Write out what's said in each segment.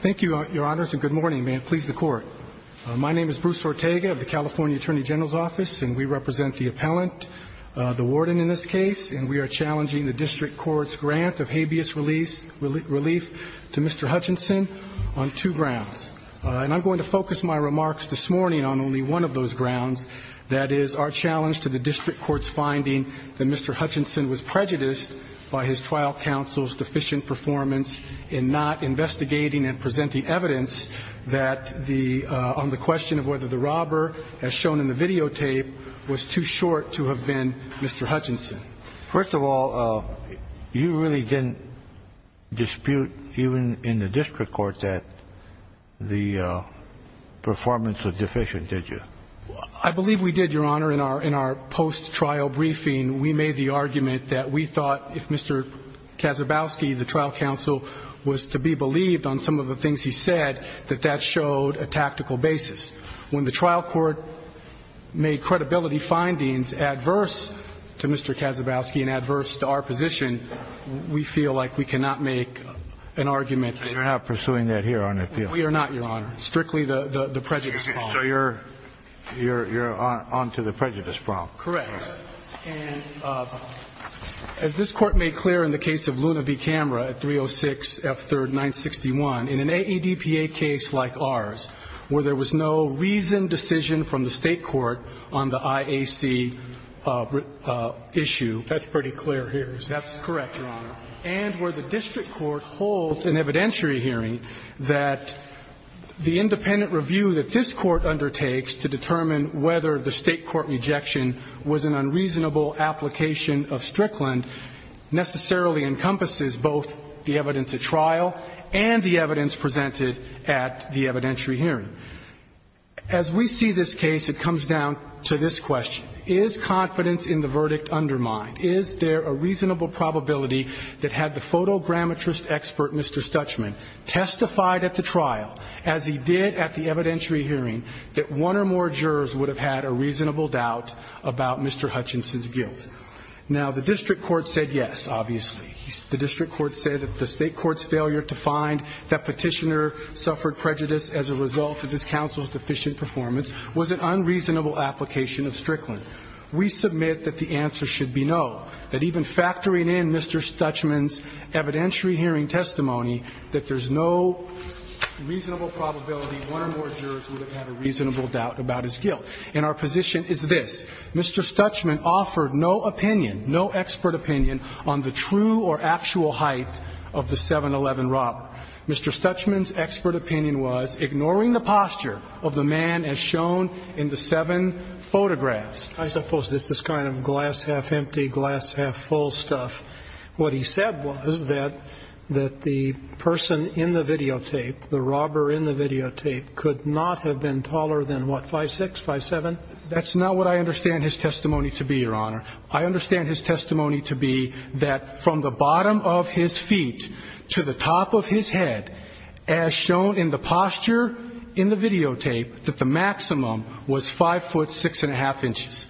Thank you, Your Honors, and good morning. May it please the Court. My name is Bruce Ortega of the California Attorney General's Office, and we represent the appellant, the warden in this case, and we are challenging the district court's grant of habeas relief to Mr. Hutchinson on two grounds. And I'm going to focus my remarks this morning on only one of those grounds, that is our challenge to the district court's finding that Mr. Hutchinson was prejudiced by his trial counsel's deficient performance in not investigating and presenting evidence on the question of whether the robber, as shown in the videotape, was too short to have been Mr. Hutchinson. First of all, you really didn't dispute, even in the district court, that the performance was deficient, did you? I believe we did, Your Honor. Your Honor, in our post-trial briefing, we made the argument that we thought if Mr. Kazabowski, the trial counsel, was to be believed on some of the things he said, that that showed a tactical basis. When the trial court made credibility findings adverse to Mr. Kazabowski and adverse to our position, we feel like we cannot make an argument that we are not pursuing that here on appeal. We are not, Your Honor. Strictly the prejudice policy. So you're on to the prejudice problem. Correct. And as this Court made clear in the case of Luna v. Camera at 306 F. 3rd, 961, in an AEDPA case like ours, where there was no reasoned decision from the State court on the IAC issue. That's pretty clear here. That's correct, Your Honor. And where the district court holds an evidentiary hearing that the independent review that this Court undertakes to determine whether the State court rejection was an unreasonable application of Strickland necessarily encompasses both the evidence at trial and the evidence presented at the evidentiary hearing. As we see this case, it comes down to this question. Is confidence in the verdict undermined? Is there a reasonable probability that had the photogrammetrist expert, Mr. Stutchman, testified at the trial, as he did at the evidentiary hearing, that one or more jurors would have had a reasonable doubt about Mr. Hutchinson's guilt? Now, the district court said yes, obviously. The district court said that the State court's failure to find that petitioner suffered prejudice as a result of this counsel's deficient performance was an unreasonable application of Strickland. We submit that the answer should be no, that even factoring in Mr. Stutchman's evidentiary hearing testimony, that there's no reasonable probability one or more jurors would have had a reasonable doubt about his guilt. And our position is this. Mr. Stutchman offered no opinion, no expert opinion, on the true or actual height of the 7-11 robbery. Mr. Stutchman's expert opinion was ignoring the posture of the man as shown in the videotapes. I suppose this is kind of glass half empty, glass half full stuff. What he said was that the person in the videotape, the robber in the videotape, could not have been taller than what, 5'6", 5'7"? That's not what I understand his testimony to be, Your Honor. I understand his testimony to be that from the bottom of his feet to the top of his head, as shown in the posture in the videotape, that the maximum was 5'6".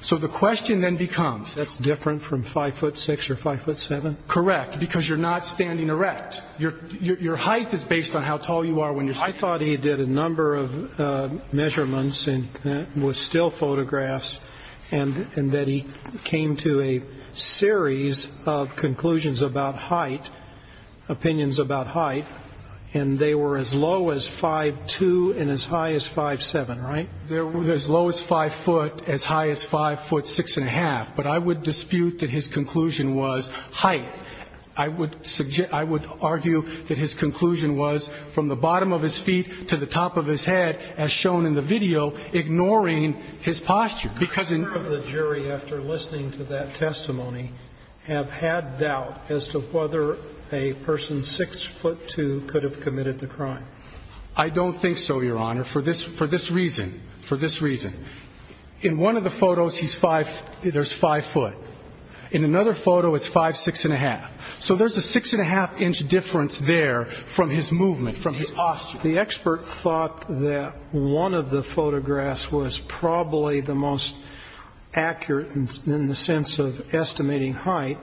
So the question then becomes... That's different from 5'6"? Correct. Because you're not standing erect. Your height is based on how tall you are when you're standing erect. I thought he did a number of measurements and was still photographs, and that he came to a series of conclusions about height, opinions about height, and they were as low as 5'2", and as high as 5'7", right? They were as low as 5 foot, as high as 5 foot, 6 1⁄2". But I would dispute that his conclusion was height. I would argue that his conclusion was from the bottom of his feet to the top of his head, as shown in the video, ignoring his posture. The jury, after listening to that testimony, have had doubt as to whether a person 6'2 could have committed the crime. I don't think so, Your Honor, for this reason. For this reason. In one of the photos, he's 5'5". In another photo, it's 5'6". So there's a 6 1⁄2 inch difference there from his movement, from his posture. The expert thought that one of the photographs was probably the most accurate in the sense of estimating height.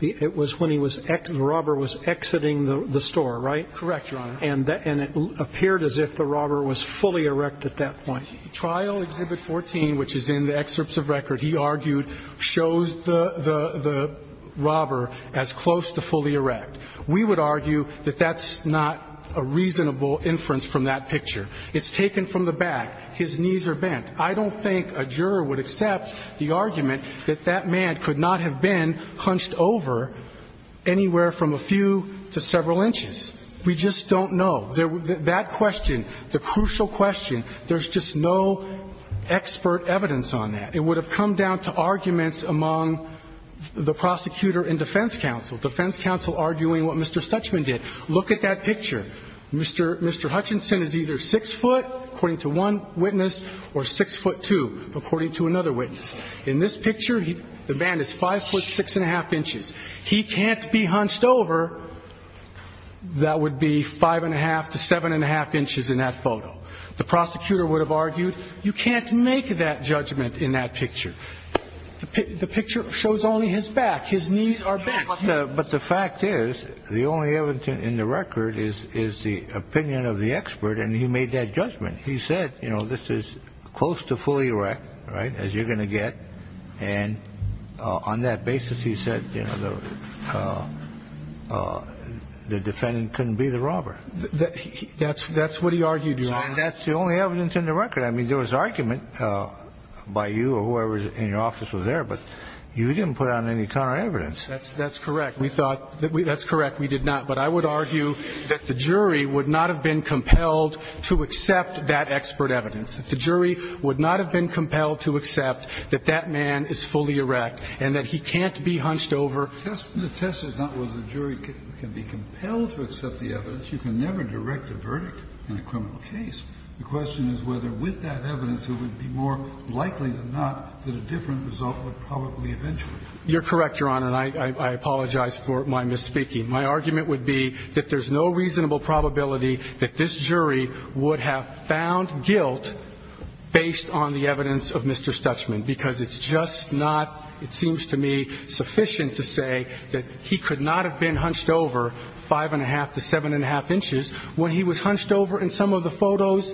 It was when he was exiting, the robber was exiting the store, right? Correct, Your Honor. And it appeared as if the robber was fully erect at that point. Trial Exhibit 14, which is in the excerpts of record, he argued, shows the robber as close to fully erect. We would argue that that's not a reasonable inference from that picture. It's taken from the back. His knees are bent. I don't think a juror would accept the argument that that man could not have been hunched over anywhere from a few to several inches. We just don't know. That question, the crucial question, there's just no expert evidence on that. It would have come down to arguments among the prosecutor and defense counsel. Defense counsel arguing what Mr. Stuchman did. Look at that picture. Mr. Hutchinson is either 6 foot, according to one witness, or 6 foot 2, according to another witness. In this picture, the man is 5 foot 6 and a half inches. He can't be hunched over. That would be 5 and a half to 7 and a half inches in that photo. The prosecutor would have argued you can't make that judgment in that picture. The picture shows only his back. His knees are bent. But the fact is, the only evidence in the record is the opinion of the expert, and he made that judgment. He said, you know, this is close to fully erect, right, as you're going to get. And on that basis, he said, you know, the defendant couldn't be the robber. That's what he argued. That's the only evidence in the record. I mean, there was argument by you or whoever in your office was there, but you didn't put out any counter evidence. That's correct. We thought that's correct. We did not. But I would argue that the jury would not have been compelled to accept that expert evidence, that the jury would not have been compelled to accept that that man is fully erect and that he can't be hunched over. The test is not whether the jury can be compelled to accept the evidence. You can never direct a verdict in a criminal case. The question is whether with that evidence, it would be more likely than not that a different result would probably eventually occur. You're correct, Your Honor, and I apologize for my misspeaking. My argument would be that there's no reasonable probability that this jury would have found guilt based on the evidence of Mr. Stutsman, because it's just not, it seems to me, sufficient to say that he could not have been hunched over 5 1⁄2 to 7 1⁄2 inches when he was hunched over in some of the photos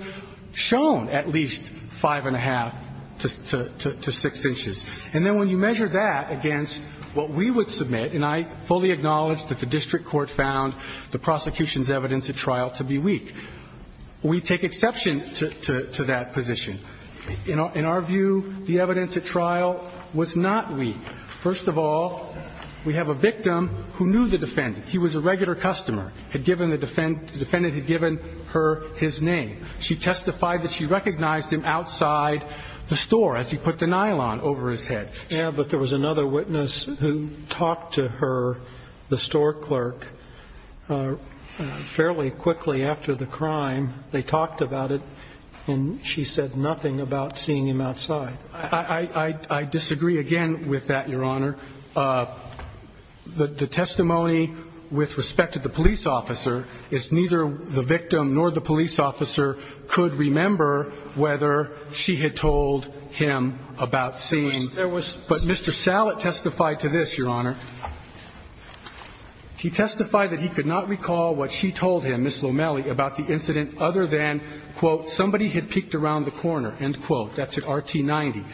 shown at least 5 1⁄2 to 6 inches. And then when you measure that against what we would submit, and I fully acknowledge that the district court found the prosecution's evidence at trial to be weak, we take exception to that position. In our view, the evidence at trial was not weak. First of all, we have a victim who knew the defendant. He was a regular customer, had given the defendant, the defendant had given her his name. She testified that she recognized him outside the store as he put the nylon over his head. Yeah, but there was another witness who talked to her, the store clerk, fairly quickly after the crime. They talked about it, and she said nothing about seeing him outside. I disagree again with that, Your Honor. The testimony with respect to the police officer is neither the victim nor the police officer could remember whether she had told him about seeing him. But Mr. Sallet testified to this, Your Honor. He testified that he could not recall what she told him, Ms. Lomelli, about the incident other than, quote, somebody had peeked around the corner, end quote. That's at RT 90.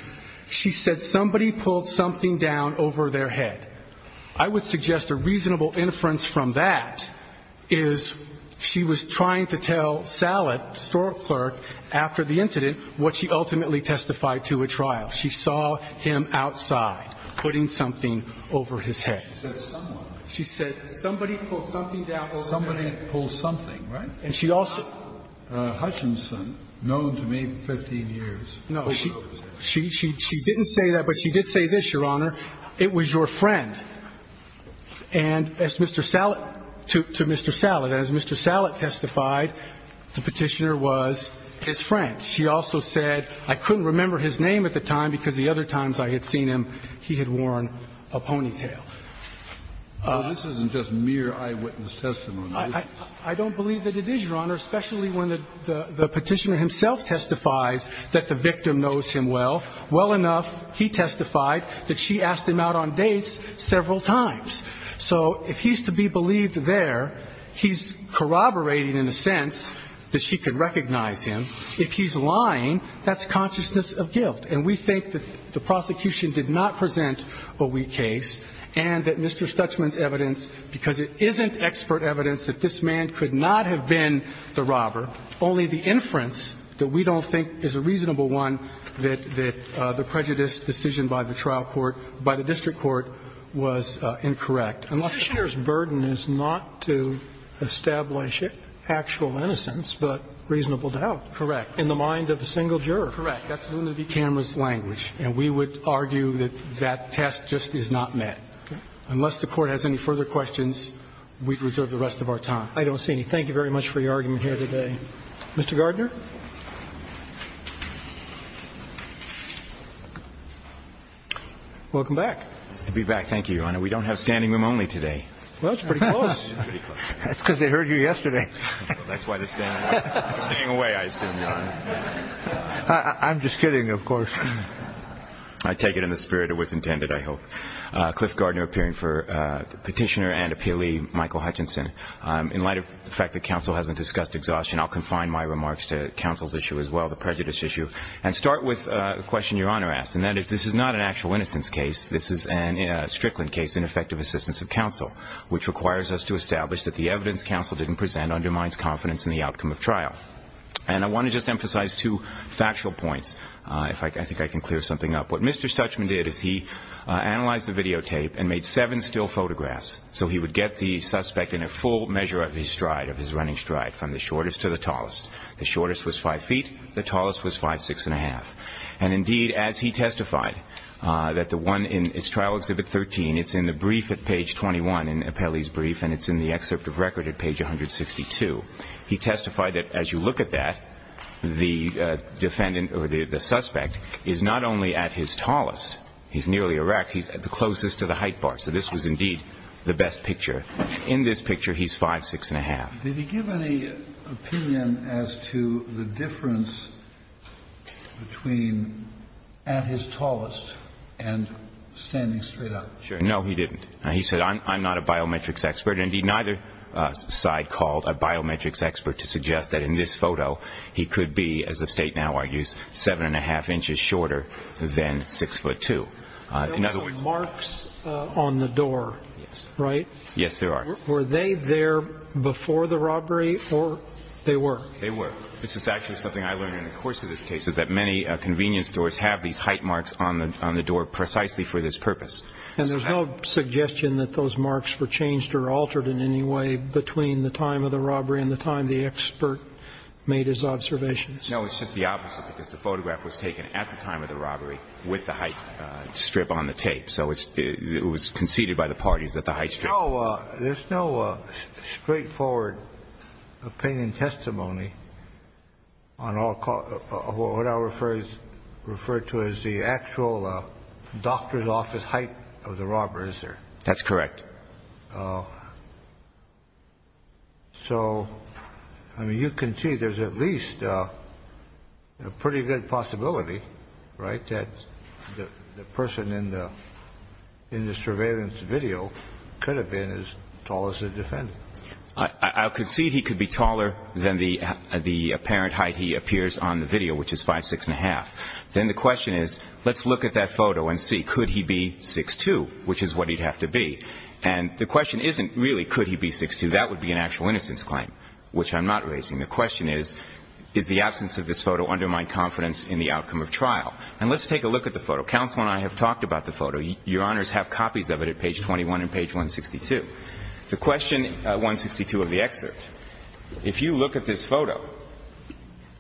She said somebody pulled something down over their head. I would suggest a reasonable inference from that is she was trying to tell Sallet, the store clerk, after the incident, what she ultimately testified to at trial. She saw him outside putting something over his head. She said somebody pulled something down over their head. Somebody pulled something, right? And she also. Hutchinson, known to me for 15 years. No, she didn't say that, but she did say this, Your Honor. It was your friend. And as Mr. Sallet, to Mr. Sallet. And as Mr. Sallet testified, the Petitioner was his friend. She also said, I couldn't remember his name at the time because the other times I had seen him, he had worn a ponytail. This isn't just mere eyewitness testimony. I don't believe that it is, Your Honor, especially when the Petitioner himself testifies that the victim knows him well. Well enough, he testified that she asked him out on dates several times. So if he's to be believed there, he's corroborating in a sense that she can recognize him. If he's lying, that's consciousness of guilt. And we think that the prosecution did not present a weak case and that Mr. Stutzman's evidence, because it isn't expert evidence that this man could not have been the Petitioner's burden is not to establish actual innocence, but reasonable doubt. Correct. In the mind of a single juror. Correct. That's the camera's language. And we would argue that that test just is not met. Unless the Court has any further questions, we'd reserve the rest of our time. I don't see any. Thank you very much for your argument here today. Mr. Gardner. Welcome back. To be back. Thank you, Your Honor. We don't have standing room only today. Well, it's pretty close. That's because they heard you yesterday. That's why they're staying away, I assume, Your Honor. I'm just kidding, of course. I take it in the spirit it was intended, I hope. Cliff Gardner, appearing for Petitioner and Appealee Michael Hutchinson. to Mr. Stutzman. the prejudice issue, and start with a question Your Honor asked, and that is this is not an actual innocence case. This is a Strickland case in effective assistance of counsel, which requires us to establish that the evidence counsel didn't present undermines confidence in the outcome of trial. And I want to just emphasize two factual points. I think I can clear something up. What Mr. Stutzman did is he analyzed the videotape and made seven still photographs, so he would get the suspect in a full measure of his stride, of his running stride, from the shortest to the tallest. The shortest was five feet. The tallest was five, six and a half. And indeed, as he testified, that the one in his trial exhibit 13, it's in the brief at page 21 in Appealee's brief, and it's in the excerpt of record at page 162. He testified that as you look at that, the defendant or the suspect is not only at his tallest. He's nearly erect. He's at the closest to the height bar, so this was indeed the best picture. In this picture, he's five, six and a half. Did he give any opinion as to the difference between at his tallest and standing straight up? No, he didn't. He said, I'm not a biometrics expert. Indeed, neither side called a biometrics expert to suggest that in this photo he could be, as the State now argues, seven and a half inches shorter than six foot two. There were no marks on the door, right? Yes, there are. Were they there before the robbery, or they were? They were. This is actually something I learned in the course of this case, is that many convenience stores have these height marks on the door precisely for this purpose. And there's no suggestion that those marks were changed or altered in any way between the time of the robbery and the time the expert made his observations? No, it's just the opposite, because the photograph was taken at the time of the robbery with the height strip on the tape. So it was conceded by the parties that the height strip. There's no straightforward opinion testimony on what I'll refer to as the actual doctor's office height of the robber, is there? That's correct. So, I mean, you can see there's at least a pretty good possibility, right, that the person in the surveillance video could have been as tall as the defendant? I'll concede he could be taller than the apparent height he appears on the video, which is five, six and a half. Then the question is, let's look at that photo and see, could he be 6'2", which is what he'd have to be. And the question isn't really could he be 6'2". That would be an actual innocence claim, which I'm not raising. The question is, is the absence of this photo undermine confidence in the outcome of trial? And let's take a look at the photo. Counsel and I have talked about the photo. Your Honors have copies of it at page 21 and page 162. The question, 162 of the excerpt, if you look at this photo,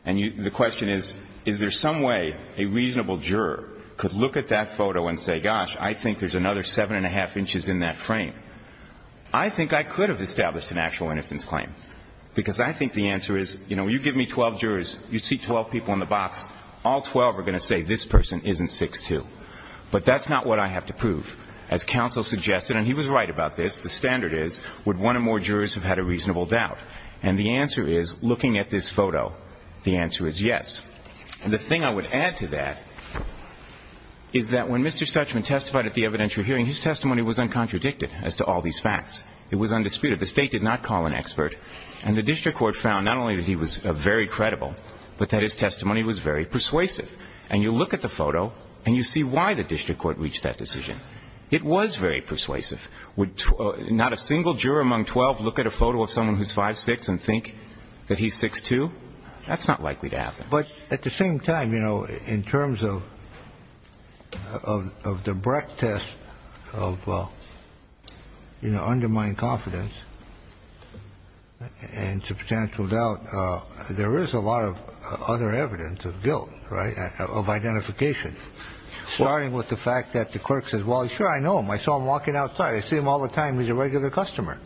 and the question is, is there some way a reasonable juror could look at that photo and say, gosh, I think there's another 7 1⁄2 inches in that frame. I think I could have established an actual innocence claim, because I think the answer is, you know, this person isn't 6'2". But that's not what I have to prove. As counsel suggested, and he was right about this, the standard is, would one or more jurors have had a reasonable doubt? And the answer is, looking at this photo, the answer is yes. And the thing I would add to that is that when Mr. Stuchman testified at the evidentiary hearing, his testimony was uncontradicted as to all these facts. It was undisputed. The State did not call an expert. And the district court found not only that he was very credible, but that his testimony was very persuasive. And you look at the photo, and you see why the district court reached that decision. It was very persuasive. Would not a single juror among 12 look at a photo of someone who's 5'6 and think that he's 6'2"? That's not likely to happen. But at the same time, you know, in terms of the Brecht test of, you know, undermined confidence and substantial doubt, there is a lot of other evidence of guilt, right? Of identification, starting with the fact that the clerk says, well, sure, I know him. I saw him walking outside. I see him all the time. He's a regular customer.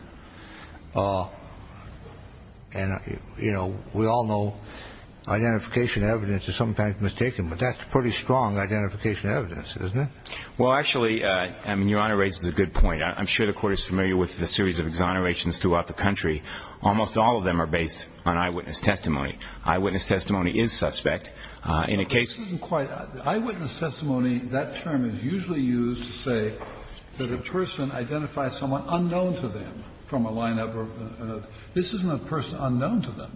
And, you know, we all know identification evidence is sometimes mistaken, but that's pretty strong identification evidence, isn't it? Well, actually, I mean, Your Honor raises a good point. I'm sure the Court is familiar with the series of exonerations throughout the country. Almost all of them are based on eyewitness testimony. Eyewitness testimony is suspect. In a case of an eyewitness testimony, that term is usually used to say that a person identifies someone unknown to them from a lineup. This isn't a person unknown to them.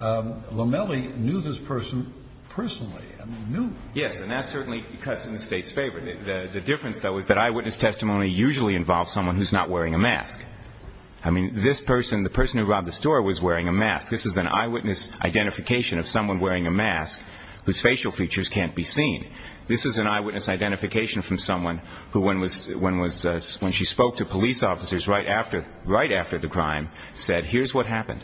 Lomelli knew this person personally. I mean, knew. Yes, and that's certainly in the State's favor. The difference, though, is that eyewitness testimony usually involves someone who's not wearing a mask. I mean, this person, the person who robbed the store was wearing a mask. This is an eyewitness identification of someone wearing a mask whose facial features can't be seen. This is an eyewitness identification from someone who, when she spoke to police officers right after the crime, said, here's what happened.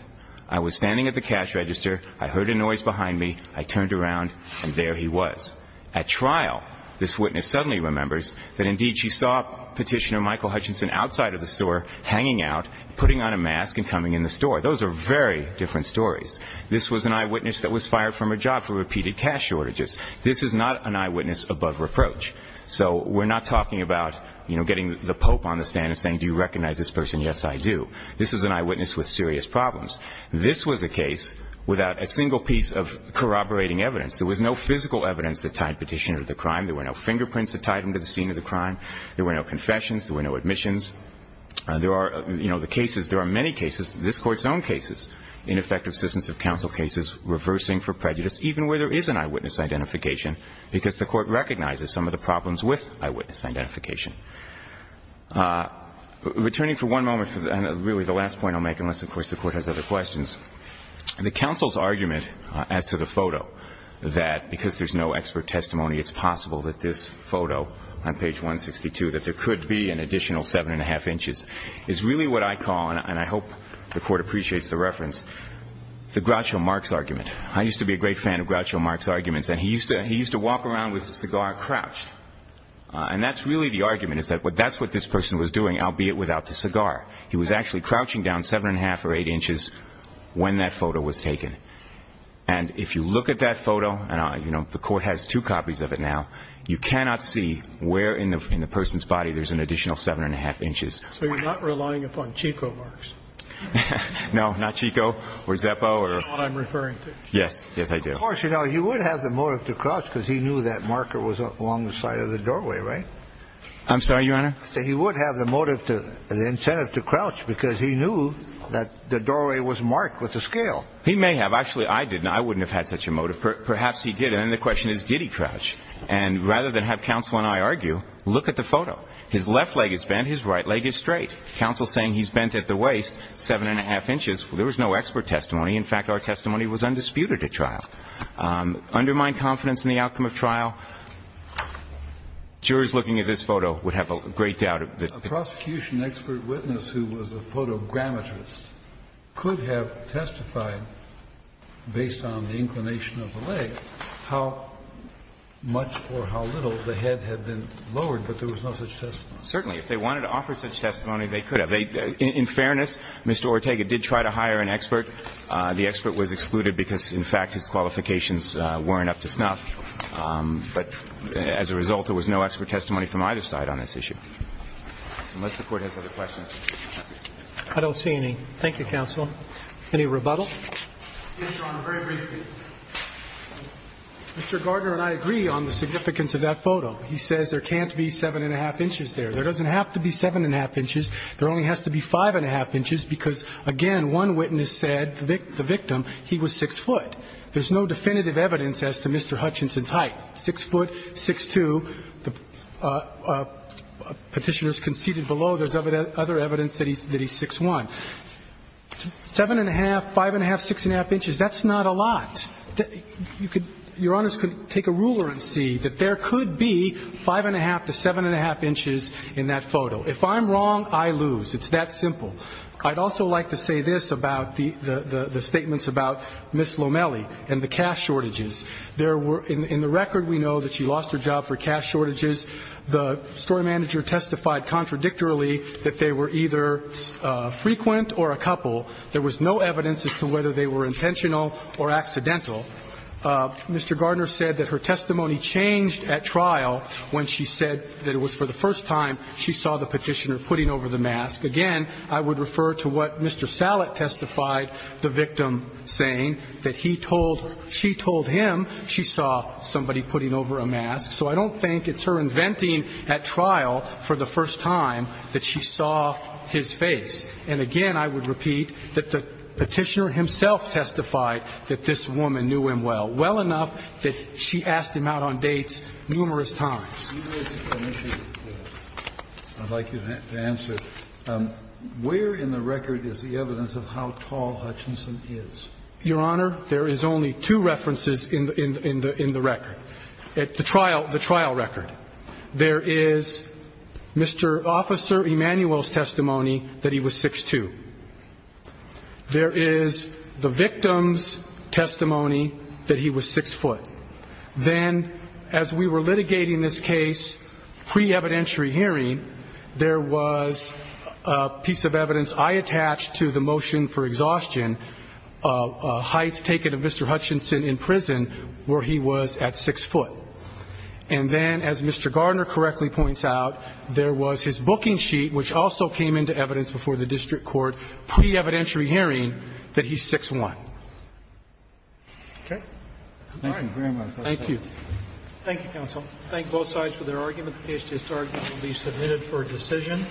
I was standing at the cash register. I heard a noise behind me. I turned around, and there he was. At trial, this witness suddenly remembers that, indeed, she saw Petitioner Michael Hutchinson outside of the store hanging out, putting on a mask, and coming in the store. Those are very different stories. This was an eyewitness that was fired from her job for repeated cash shortages. This is not an eyewitness above reproach. So we're not talking about, you know, getting the pope on the stand and saying, do you recognize this person? Yes, I do. This is an eyewitness with serious problems. This was a case without a single piece of corroborating evidence. There was no physical evidence that tied Petitioner to the crime. There were no fingerprints that tied him to the scene of the crime. There were no confessions. There were no admissions. There are, you know, the cases, there are many cases, this Court's own cases, ineffective assistance of counsel cases, reversing for prejudice, even where there is an eyewitness identification, because the Court recognizes some of the problems with eyewitness identification. Returning for one moment, and really the last point I'll make, unless, of course, the Court has other questions, the counsel's argument as to the photo, that because there's no expert testimony, it's possible that this photo on page 162, that there could be an additional seven and a half inches, is really what I call, and I hope the Court appreciates the reference, the Groucho Marx argument. I used to be a great fan of Groucho Marx arguments. And he used to walk around with a cigar crouched. And that's really the argument, is that that's what this person was doing, albeit without the cigar. He was actually crouching down seven and a half or eight inches when that photo was taken. And if you look at that photo, and, you know, the Court has two copies of it now, you cannot see where in the person's body there's an additional seven and a half inches. So you're not relying upon Chico Marx? No. Not Chico or Zeppo. That's not what I'm referring to. Yes. Yes, I do. Of course, you know, he would have the motive to crouch, because he knew that marker was along the side of the doorway, right? I'm sorry, Your Honor? He would have the incentive to crouch, because he knew that the doorway was marked with a scale. He may have. Actually, I didn't. I wouldn't have had such a motive. Perhaps he did. Then the question is, did he crouch? And rather than have counsel and I argue, look at the photo. His left leg is bent. His right leg is straight. Counsel is saying he's bent at the waist seven and a half inches. There was no expert testimony. In fact, our testimony was undisputed at trial. Undermine confidence in the outcome of trial, jurors looking at this photo would have a great doubt. A prosecution expert witness who was a photogrammetrist could have testified, based on the inclination of the leg, how much or how little the head had been lowered, but there was no such testimony. Certainly. If they wanted to offer such testimony, they could have. In fairness, Mr. Ortega did try to hire an expert. The expert was excluded because, in fact, his qualifications weren't up to snuff. But as a result, there was no expert testimony from either side on this issue. Unless the Court has other questions. I don't see any. Thank you, counsel. Any rebuttal? Yes, Your Honor. Very briefly. Mr. Gardner and I agree on the significance of that photo. He says there can't be seven and a half inches there. There doesn't have to be seven and a half inches. There only has to be five and a half inches because, again, one witness said, the victim, he was six foot. There's no definitive evidence as to Mr. Hutchinson's height. Six foot, 6'2". Petitioners conceded below. There's other evidence that he's 6'1". Seven and a half, five and a half, six and a half inches, that's not a lot. Your Honor could take a ruler and see that there could be five and a half to seven and a half inches in that photo. If I'm wrong, I lose. It's that simple. I'd also like to say this about the statements about Ms. Lomelli and the cash shortages. In the record, we know that she lost her job for cash shortages. The story manager testified contradictorily that they were either frequent or a couple. There was no evidence as to whether they were intentional or accidental. Mr. Gardner said that her testimony changed at trial when she said that it was for the first time she saw the petitioner putting over the mask. Again, I would refer to what Mr. Sallet testified the victim saying, that he told her, she told him she saw somebody putting over a mask. So I don't think it's her inventing at trial for the first time that she saw his face. And again, I would repeat that the petitioner himself testified that this woman knew him well, well enough that she asked him out on dates numerous times. I'd like you to answer. Where in the record is the evidence of how tall Hutchinson is? Your Honor, there is only two references in the record. The trial record. There is Mr. Officer Emanuel's testimony that he was 6'2". There is the victim's testimony that he was 6'0". Then, as we were litigating this case pre-evidentiary hearing, there was a piece of evidence I attached to the motion for exhaustion, heights taken of Mr. Hutchinson in prison where he was at 6'0". And then, as Mr. Gardner correctly points out, there was his booking sheet which also came into evidence before the district court pre-evidentiary hearing that he's 6'1". Okay. Thank you very much. Thank you. Thank you, counsel. I thank both sides for their argument. The case to start will be submitted for decision.